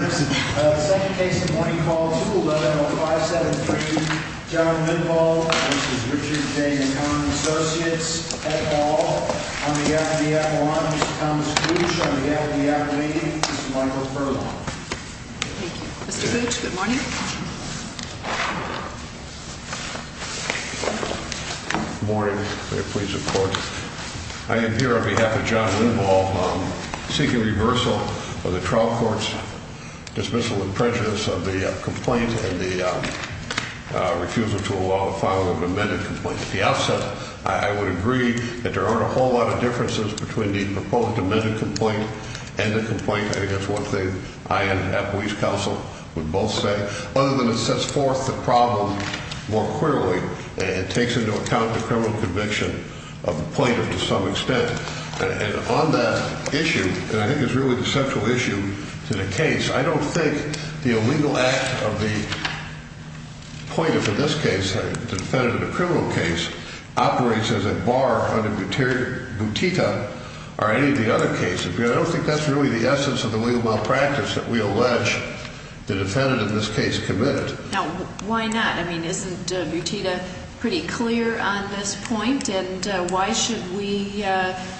2nd Case in Point Call 2-110-573 John Vinvall v. Richard J. Nakon & Lake Associates Head Hall, on behalf of the Appalachians, Thomas Gooch, on behalf of the Appalachian, Mr. Michael Furlong. Thank you. Mr. Gooch, good morning. Good morning. May it please the Court. I am here on behalf of John Vinvall, seeking reversal of the trial court's dismissal and prejudice of the complaint and the refusal to allow the filing of an amended complaint. At the outset, I would agree that there aren't a whole lot of differences between the proposed amended complaint and the complaint. I think that's one thing I and Appalachia Council would both say. Other than it sets forth the problem more clearly and it takes into account the criminal conviction of the plaintiff to some extent. And on that issue, and I think it's really the central issue to the case, I don't think the illegal act of the plaintiff in this case, the defendant in the criminal case, operates as a bar under Butita or any of the other cases. I don't think that's really the essence of the legal malpractice that we allege the defendant in this case committed. Now, why not? I mean, isn't Butita pretty clear on this point? And why should we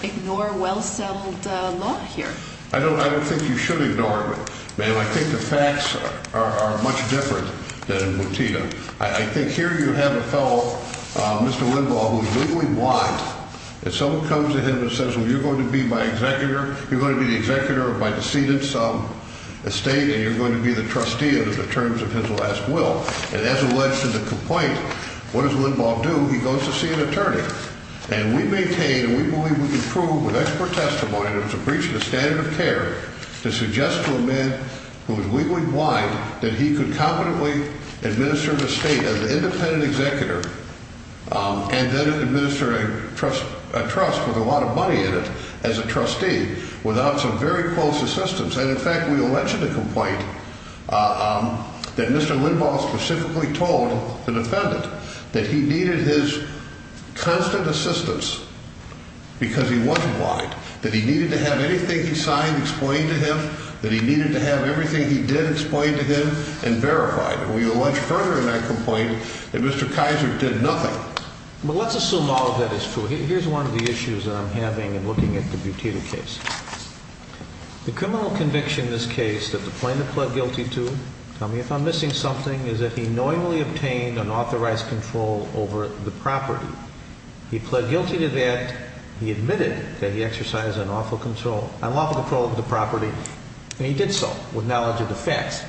ignore well-settled law here? I don't think you should ignore it, ma'am. I think the facts are much different than in Butita. I think here you have a fellow, Mr. Lindbaugh, who is legally blind. And someone comes to him and says, well, you're going to be my executor, you're going to be the executor of my decedent's estate, and you're going to be the trustee under the terms of his last will. And as alleged in the complaint, what does Lindbaugh do? He goes to see an attorney. And we maintain and we believe we can prove with expert testimony that it was a breach of the standard of care to suggest to a man who is legally blind that he could competently administer the estate as an independent executor and then administer a trust with a lot of money in it as a trustee without some very close assistance. And, in fact, we allege in the complaint that Mr. Lindbaugh specifically told the defendant that he needed his constant assistance because he wasn't blind, that he needed to have anything he signed explained to him, that he needed to have everything he did explained to him and verified. We allege further in that complaint that Mr. Kaiser did nothing. Well, let's assume all of that is true. Here's one of the issues that I'm having in looking at the Butita case. The criminal conviction in this case that the plaintiff pled guilty to, tell me if I'm missing something, is that he knowingly obtained unauthorized control over the property. He pled guilty to that. He admitted that he exercised unlawful control over the property. And he did so with knowledge of the facts.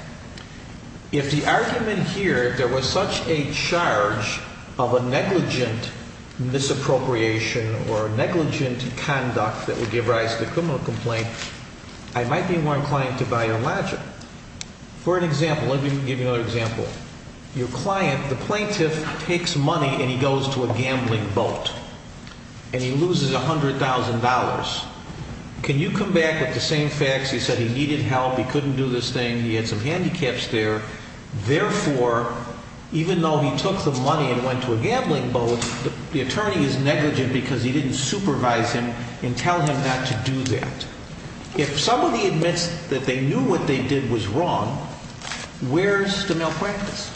If the argument here, if there was such a charge of a negligent misappropriation or negligent conduct that would give rise to a criminal complaint, I might be more inclined to buy and lodge it. For an example, let me give you another example. Your client, the plaintiff, takes money and he goes to a gambling boat. And he loses $100,000. Can you come back with the same facts? He said he needed help, he couldn't do this thing, he had some handicaps there. Therefore, even though he took the money and went to a gambling boat, the attorney is negligent because he didn't supervise him and tell him not to do that. If somebody admits that they knew what they did was wrong, where's the malpractice?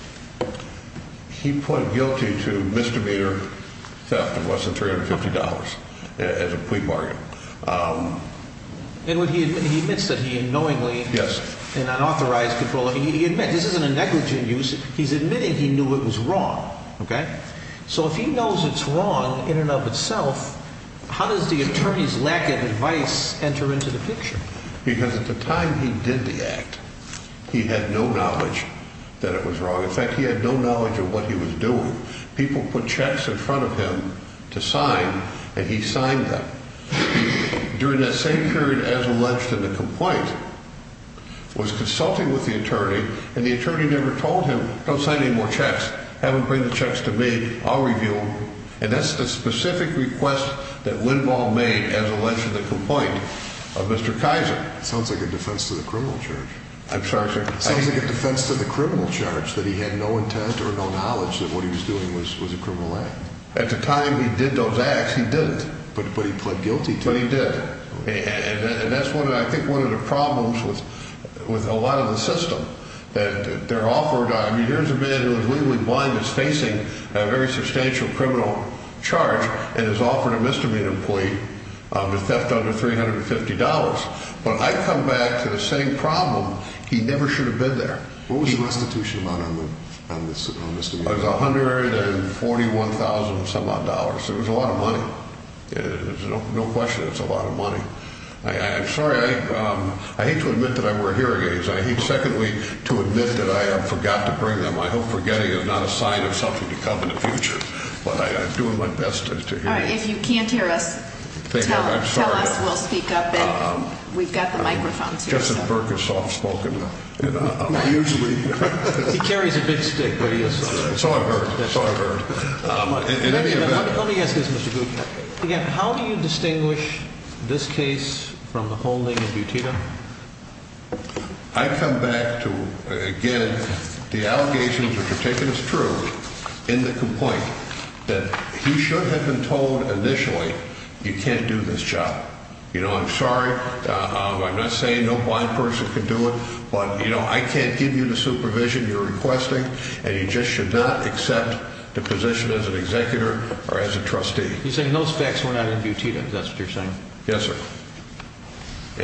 He pled guilty to misdemeanor theft of less than $350 as a plea bargain. And he admits that he knowingly, in unauthorized control, he admits this isn't a negligent use, he's admitting he knew it was wrong. So if he knows it's wrong in and of itself, how does the attorney's lack of advice enter into the picture? Because at the time he did the act, he had no knowledge that it was wrong. In fact, he had no knowledge of what he was doing. People put checks in front of him to sign and he signed them. During that same period, as alleged in the complaint, was consulting with the attorney and the attorney never told him, don't sign any more checks. Have him bring the checks to me, I'll review them. And that's the specific request that Lindvall made as alleged in the complaint of Mr. Kaiser. Sounds like a defense to the criminal charge. I'm sorry, sir. Sounds like a defense to the criminal charge that he had no intent or no knowledge that what he was doing was a criminal act. At the time he did those acts, he didn't. But he pled guilty to it. But he did. And that's, I think, one of the problems with a lot of the system. There's a man who is legally blind that's facing a very substantial criminal charge and has offered a misdemeanor plea to theft under $350. When I come back to the same problem, he never should have been there. What was the restitution amount on the misdemeanor? It was $141,000-some-odd. It was a lot of money. There's no question it's a lot of money. I'm sorry. I hate to admit that I wear hearing aids. I hate, secondly, to admit that I forgot to bring them. I hope forgetting is not a sign of something to come in the future. But I'm doing my best to hear you. All right. If you can't hear us, tell us. We'll speak up. And we've got the microphones here. Justin Burke is soft-spoken. Usually. It's all I've heard. It's all I've heard. Let me ask this, Mr. Gutman. How do you distinguish this case from the whole thing in Butita? I come back to, again, the allegations which are taken as true in the complaint. That he should have been told initially, you can't do this job. You know, I'm sorry. I'm not saying no blind person can do it. But, you know, I can't give you the supervision you're requesting. And he just should not accept the position as an executor or as a trustee. You're saying those facts were not in Butita. Is that what you're saying? Yes, sir.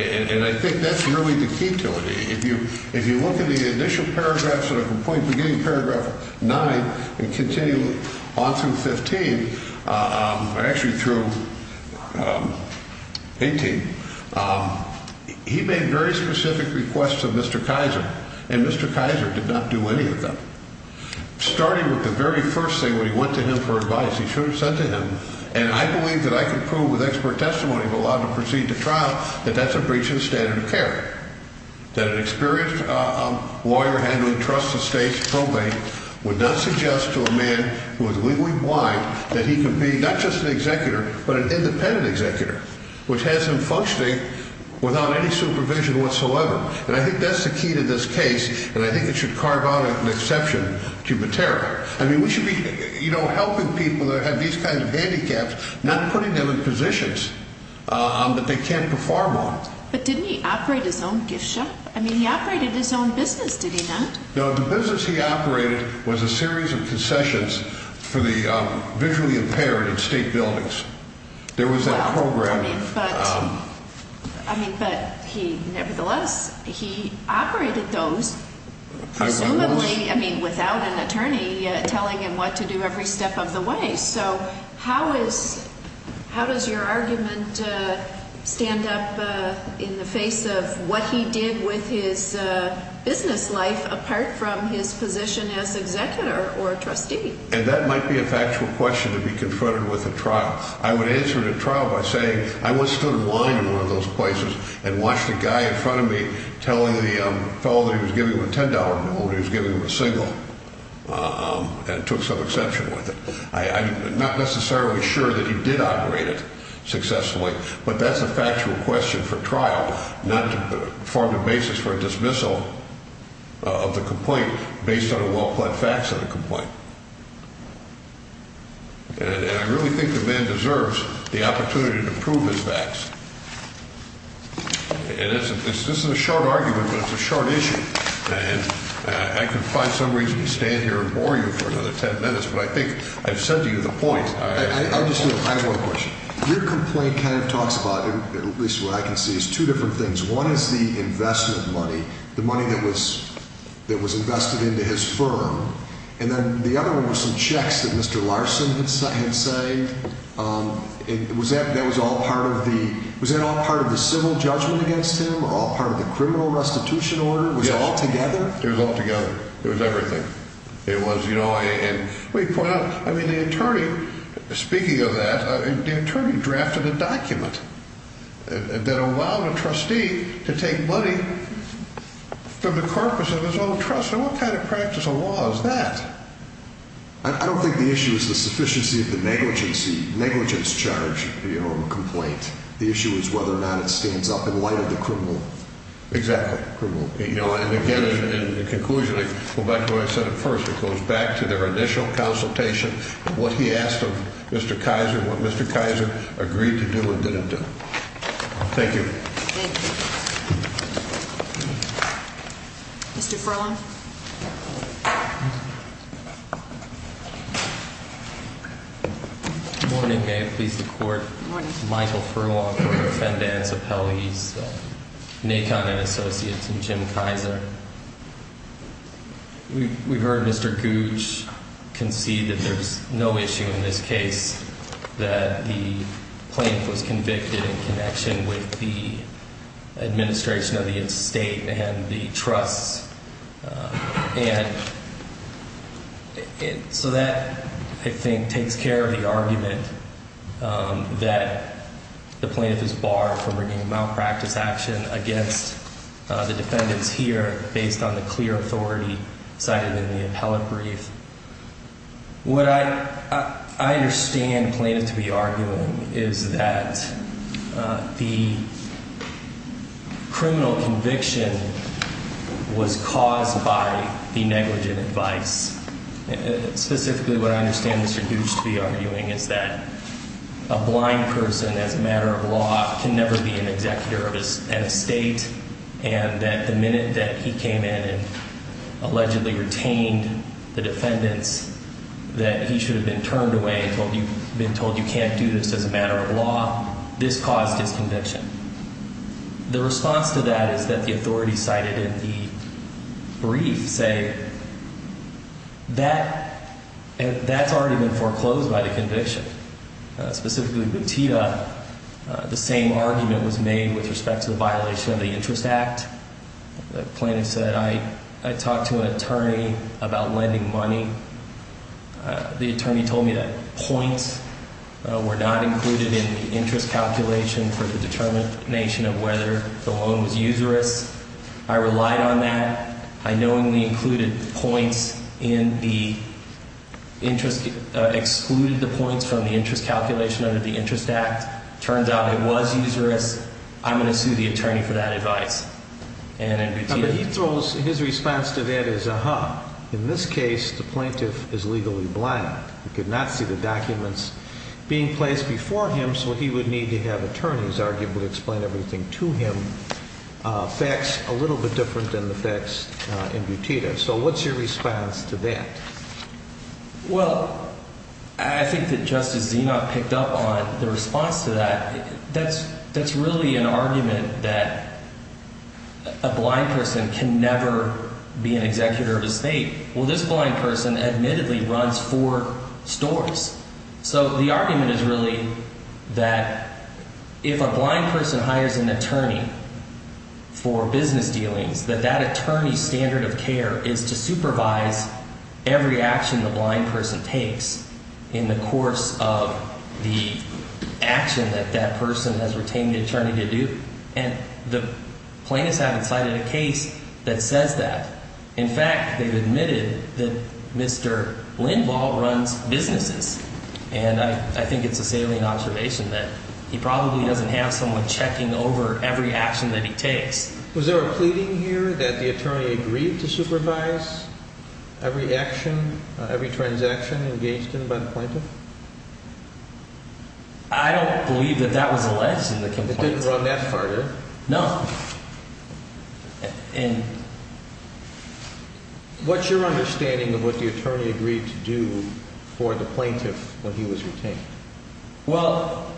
And I think that's really the key to it. If you look at the initial paragraphs of the complaint, beginning paragraph 9 and continuing on through 15, actually through 18, he made very specific requests of Mr. Kaiser. And Mr. Kaiser did not do any of them. Starting with the very first thing when he went to him for advice, he should have said to him, and I believe that I can prove with expert testimony if allowed to proceed to trial, that that's a breach of the standard of care. That an experienced lawyer handling trusted states probate would not suggest to a man who is legally blind that he can be not just an executor but an independent executor, which has him functioning without any supervision whatsoever. And I think that's the key to this case, and I think it should carve out an exception to Butita. I mean, we should be, you know, helping people that have these kinds of handicaps, not putting them in positions that they can't perform on. But didn't he operate his own gift shop? I mean, he operated his own business, did he not? No, the business he operated was a series of concessions for the visually impaired in state buildings. There was that program. But nevertheless, he operated those presumably without an attorney telling him what to do every step of the way. So how does your argument stand up in the face of what he did with his business life apart from his position as executor or trustee? And that might be a factual question to be confronted with at trial. I would answer it at trial by saying I once stood in line in one of those places and watched a guy in front of me telling the fellow that he was giving him a $10 bill when he was giving him a single and took some exception with it. I'm not necessarily sure that he did operate it successfully, but that's a factual question for trial, not to form the basis for a dismissal of the complaint based on a well-plaid fax of the complaint. And I really think the man deserves the opportunity to prove his facts. And this is a short argument, but it's a short issue. And I could find some reason to stand here and bore you for another ten minutes, but I think I've said to you the point. I have one question. Your complaint kind of talks about, at least what I can see, is two different things. One is the investment money, the money that was invested into his firm, and then the other one was some checks that Mr. Larson had signed. Was that all part of the civil judgment against him, all part of the criminal restitution order? It was all together? It was all together. It was everything. It was, you know, and the attorney, speaking of that, the attorney drafted a document that allowed a trustee to take money from the corpus of his own trust. And what kind of practice of law is that? I don't think the issue is the sufficiency of the negligence charge of a complaint. The issue is whether or not it stands up in light of the criminal. Exactly. And again, in conclusion, I go back to what I said at first. It goes back to their initial consultation, what he asked of Mr. Kaiser, what Mr. Kaiser agreed to do and didn't do. Thank you. Thank you. Mr. Furlong. Good morning. May it please the Court. Good morning. Michael Furlong, Court of Defendants, Appellees, NACON and Associates, and Jim Kaiser. We've heard Mr. Gooch concede that there's no issue in this case, that the plaintiff was convicted in connection with the administration of the estate and the trusts. And so that, I think, takes care of the argument that the plaintiff is barred from bringing a malpractice action against the defendants here based on the clear authority cited in the appellate brief. What I understand the plaintiff to be arguing is that the criminal conviction was caused by the negligent advice. Specifically, what I understand Mr. Gooch to be arguing is that a blind person, as a matter of law, can never be an executor of an estate, and that the minute that he came in and allegedly retained the defendants, that he should have been turned away and been told you can't do this as a matter of law. This caused his conviction. The response to that is that the authority cited in the brief say that that's already been foreclosed by the conviction. Specifically, Bantida, the same argument was made with respect to the violation of the Interest Act. The plaintiff said, I talked to an attorney about lending money. The attorney told me that points were not included in the interest calculation for the determination of whether the loan was usurious. I relied on that. I knowingly included points in the interest, excluded the points from the interest calculation under the Interest Act. Turns out it was usurious. I'm going to sue the attorney for that advice. But he throws, his response to that is, uh-huh. In this case, the plaintiff is legally blind. He could not see the documents being placed before him, so he would need to have attorneys arguably explain everything to him. Facts a little bit different than the facts in Bantida. So what's your response to that? Well, I think that Justice Zenoff picked up on the response to that. That's really an argument that a blind person can never be an executor of estate. Well, this blind person admittedly runs four stores. So the argument is really that if a blind person hires an attorney for business dealings, that that attorney's standard of care is to supervise every action the blind person takes in the course of the action that that person has retained the attorney to do. And the plaintiffs haven't cited a case that says that. In fact, they've admitted that Mr. Lindvall runs businesses. And I think it's a salient observation that he probably doesn't have someone checking over every action that he takes. Was there a pleading here that the attorney agreed to supervise every action, every transaction engaged in by the plaintiff? I don't believe that that was alleged in the complaint. It didn't run that far, did it? No. And what's your understanding of what the attorney agreed to do for the plaintiff when he was retained? Well,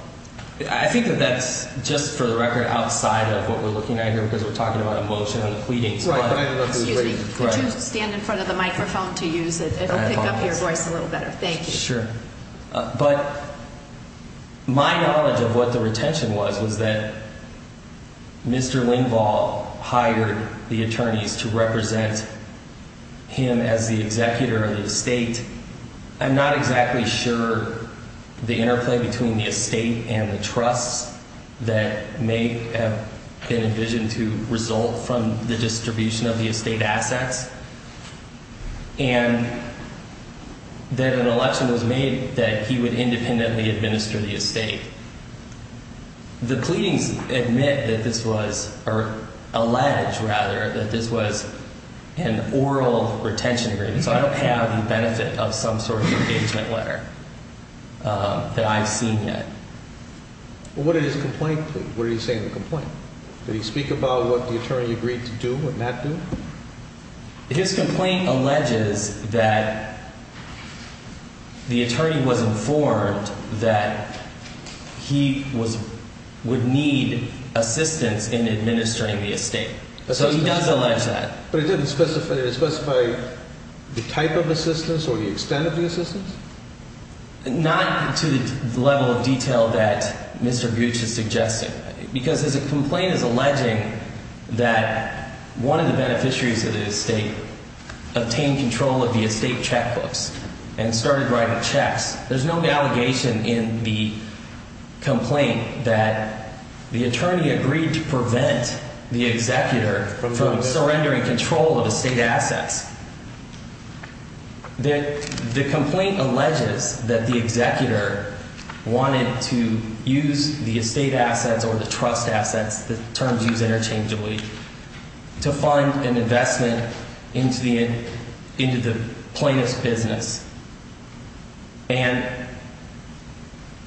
I think that that's just for the record outside of what we're looking at here because we're talking about emotion and the pleadings. Right. Excuse me. Could you stand in front of the microphone to use it? It'll pick up your voice a little better. Thank you. Sure. But my knowledge of what the retention was was that Mr. Lindvall hired the attorneys to represent him as the executor of the estate. I'm not exactly sure the interplay between the estate and the trusts that may have been envisioned to result from the distribution of the estate assets. And then an election was made that he would independently administer the estate. The pleadings admit that this was, or allege rather, that this was an oral retention agreement. So I don't have the benefit of some sort of engagement letter that I've seen yet. What did his complaint, what did he say in the complaint? Did he speak about what the attorney agreed to do and not do? His complaint alleges that the attorney was informed that he would need assistance in administering the estate. So he does allege that. But it didn't specify the type of assistance or the extent of the assistance? Not to the level of detail that Mr. Gooch is suggesting. Because his complaint is alleging that one of the beneficiaries of the estate obtained control of the estate checkbooks and started writing checks. There's no allegation in the complaint that the attorney agreed to prevent the executor from surrendering control of the estate assets. The complaint alleges that the executor wanted to use the estate assets or the trust assets, the terms used interchangeably, to fund an investment into the plaintiff's business. And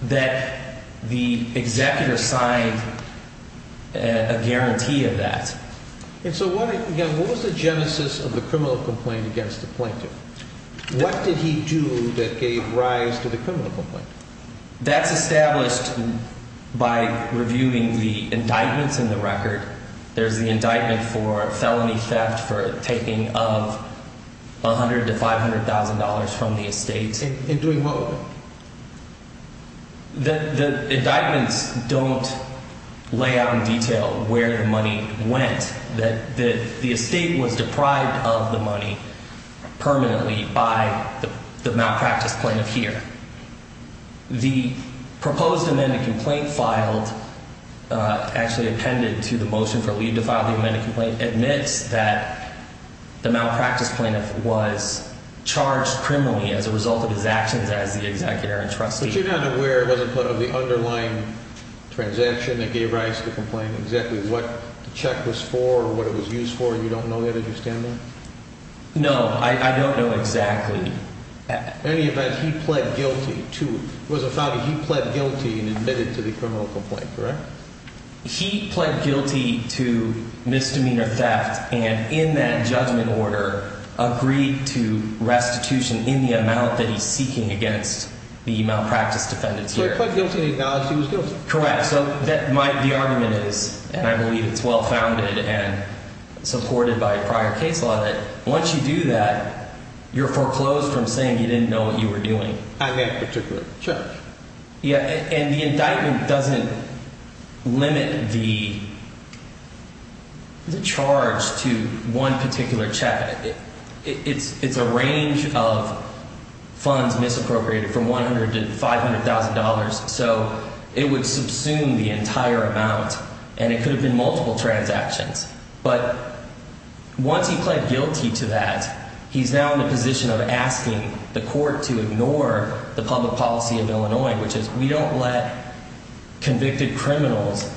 that the executor signed a guarantee of that. And so what was the genesis of the criminal complaint against the plaintiff? What did he do that gave rise to the criminal complaint? That's established by reviewing the indictments in the record. There's the indictment for felony theft for taking of $100,000 to $500,000 from the estate. In doing what with it? The indictments don't lay out in detail where the money went. That the estate was deprived of the money permanently by the malpractice plaintiff here. The proposed amended complaint filed, actually appended to the motion for leave to file the amended complaint, admits that the malpractice plaintiff was charged criminally as a result of his actions as the executor and trustee. But you're not aware, it wasn't part of the underlying transaction that gave rise to the complaint, exactly what the check was for or what it was used for? You don't know that? Did you scan that? No, I don't know exactly. In any event, he pled guilty to, it was a fact that he pled guilty and admitted to the criminal complaint, correct? He pled guilty to misdemeanor theft and in that judgment order agreed to restitution in the amount that he's seeking against the malpractice defendants here. So he pled guilty and acknowledged he was guilty? Correct. The argument is, and I believe it's well-founded and supported by prior case law, that once you do that, you're foreclosed from saying you didn't know what you were doing. On that particular charge. Yeah, and the indictment doesn't limit the charge to one particular check. It's a range of funds misappropriated from $100,000 to $500,000, so it would subsume the entire amount and it could have been multiple transactions. But once he pled guilty to that, he's now in the position of asking the court to ignore the public policy of Illinois, which is we don't let convicted criminals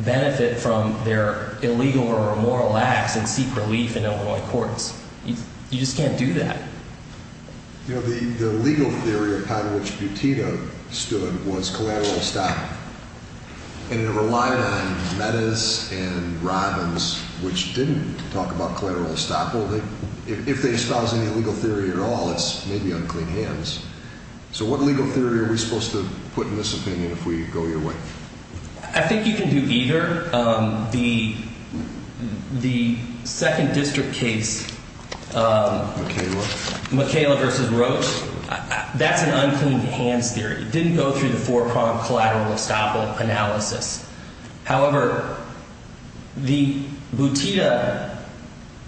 benefit from their illegal or immoral acts and seek relief in Illinois courts. You just can't do that. You know, the legal theory upon which Buttino stood was collateral estoppel, and it relied on Meadows and Robbins, which didn't talk about collateral estoppel. If they espouse any legal theory at all, it's maybe unclean hands. So what legal theory are we supposed to put in this opinion if we go your way? I think you can do either. The second district case, McKayla v. Roach, that's an unclean hands theory. It didn't go through the four-pronged collateral estoppel analysis. However, the Buttino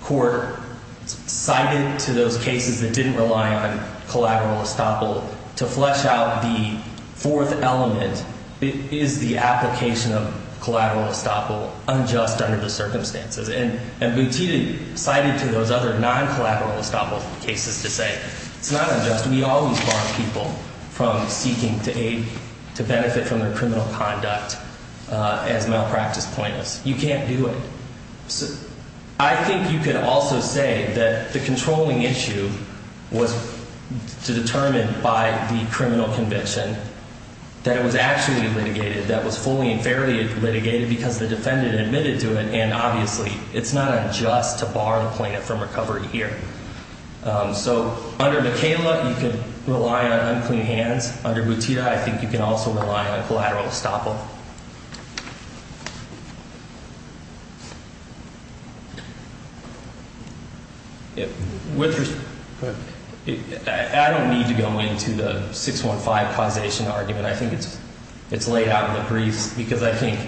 court cited to those cases that didn't rely on collateral estoppel to flesh out the fourth element, is the application of collateral estoppel unjust under the circumstances? And Buttino cited to those other non-collateral estoppel cases to say, it's not unjust. We always bar people from seeking to aid, to benefit from their criminal conduct as malpractice plaintiffs. You can't do it. I think you could also say that the controlling issue was determined by the criminal conviction, that it was actually litigated, that it was fully and fairly litigated because the defendant admitted to it. And obviously, it's not unjust to bar the plaintiff from recovery here. So under McKayla, you could rely on unclean hands. Under Buttino, I think you can also rely on collateral estoppel. I don't need to go into the 615 causation argument. I think it's laid out in the briefs because I think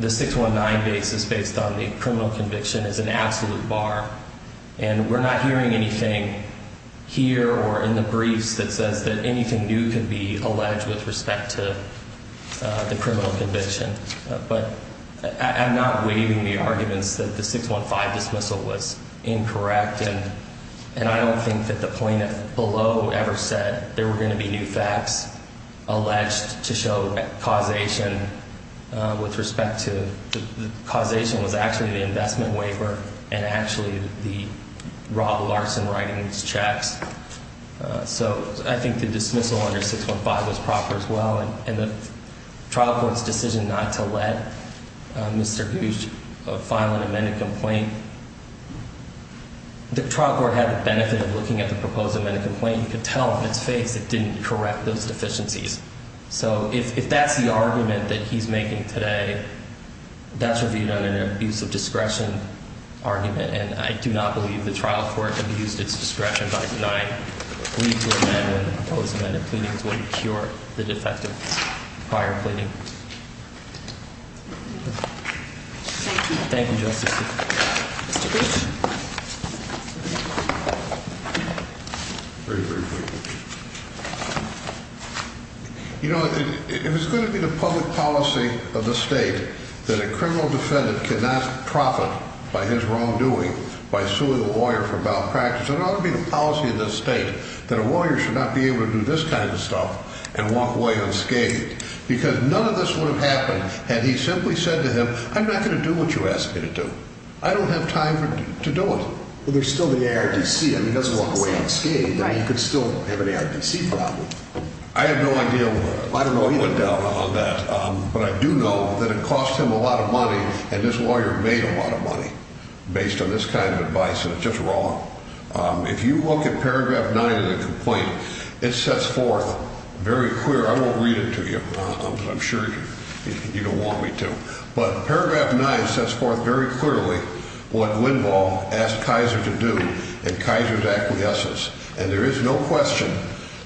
the 619 basis based on the criminal conviction is an absolute bar. And we're not hearing anything here or in the briefs that says that anything new can be alleged with respect to the criminal conviction. But I'm not waiving the arguments that the 615 dismissal was incorrect. And I don't think that the plaintiff below ever said there were going to be new facts alleged to show causation with respect to the causation was actually the investment waiver and actually the Rob Larson writing these checks. So I think the dismissal under 615 was proper as well. And the trial court's decision not to let Mr. Hughes file an amended complaint, the trial court had the benefit of looking at the proposed amended complaint. You could tell from its face it didn't correct those deficiencies. So if that's the argument that he's making today, that's reviewed under an abuse of discretion argument. And I do not believe the trial court abused its discretion by denying. Please. Amendment. Opposed. Amendment. Pleading to cure the defective prior pleading. Thank you, Justice. You know, it was going to be the public policy of the state that a criminal defendant cannot profit by his wrongdoing. By suing a lawyer for malpractice. It ought to be the policy of the state that a lawyer should not be able to do this kind of stuff and walk away unscathed. Because none of this would have happened had he simply said to him, I'm not going to do what you ask me to do. I don't have time to do it. Well, there's still the A.R.D.C. And he doesn't walk away unscathed. And he could still have an A.R.D.C. problem. I have no idea. I don't know either. But I do know that it costs him a lot of money. And this lawyer made a lot of money based on this kind of advice. And it's just wrong. If you look at Paragraph 9 of the complaint, it sets forth very clear. I won't read it to you. I'm sure you don't want me to. But Paragraph 9 sets forth very clearly what Linvall asked Kaiser to do and Kaiser's acquiescence. And there is no question.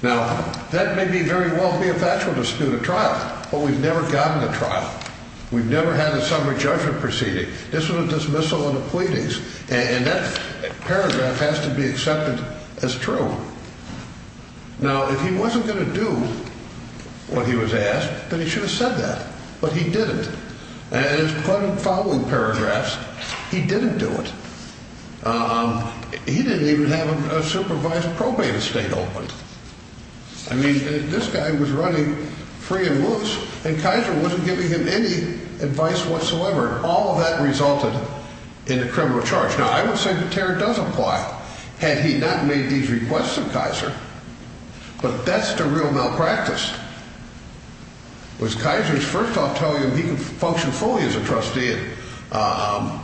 Now, that may very well be a factual dispute at trial. But we've never gotten to trial. We've never had a summary judgment proceeding. This was a dismissal and a pleadings. And that paragraph has to be accepted as true. Now, if he wasn't going to do what he was asked, then he should have said that. But he didn't. And as part of the following paragraphs, he didn't do it. He didn't even have a supervised probate estate open. I mean, this guy was running free and loose. And Kaiser wasn't giving him any advice whatsoever. All of that resulted in a criminal charge. Now, I would say the terror does apply had he not made these requests of Kaiser. But that's the real malpractice. Was Kaiser's first off telling him he could function fully as a trustee and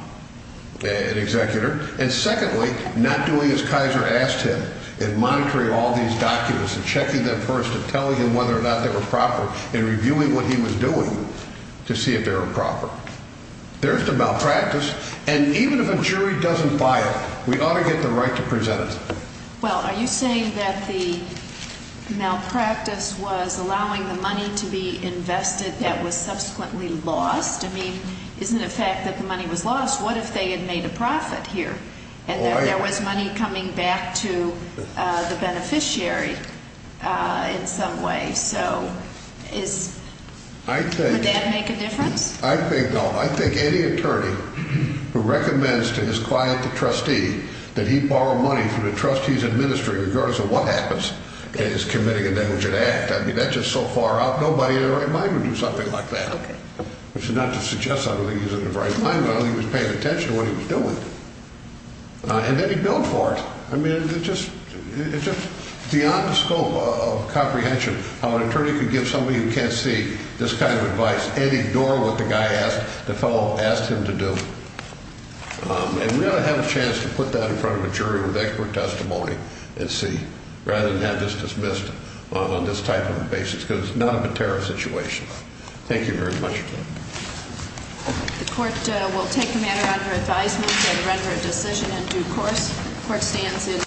an executor. And secondly, not doing as Kaiser asked him in monitoring all these documents and checking them first and telling him whether or not they were proper and reviewing what he was doing to see if they were proper. There's the malpractice. And even if a jury doesn't buy it, we ought to get the right to present it. Well, are you saying that the malpractice was allowing the money to be invested that was subsequently lost? I mean, isn't it a fact that the money was lost? What if they had made a profit here and that there was money coming back to the beneficiary in some way? So would that make a difference? I think no. I think any attorney who recommends to his client, the trustee, that he borrow money through the trustee's administry, regardless of what happens, is committing a negligent act. I mean, that's just so far out. Nobody in their right mind would do something like that. Okay. Which is not to suggest I don't think he's in the right mind, but I don't think he was paying attention to what he was doing. And then he billed for it. I mean, it's just beyond the scope of comprehension how an attorney could give somebody who can't see this kind of advice and ignore what the fellow asked him to do. And we ought to have a chance to put that in front of a jury with expert testimony and see, rather than have this dismissed on this type of a basis because it's not a material situation. Thank you very much. The court will take the matter under advisement and render a decision in due course.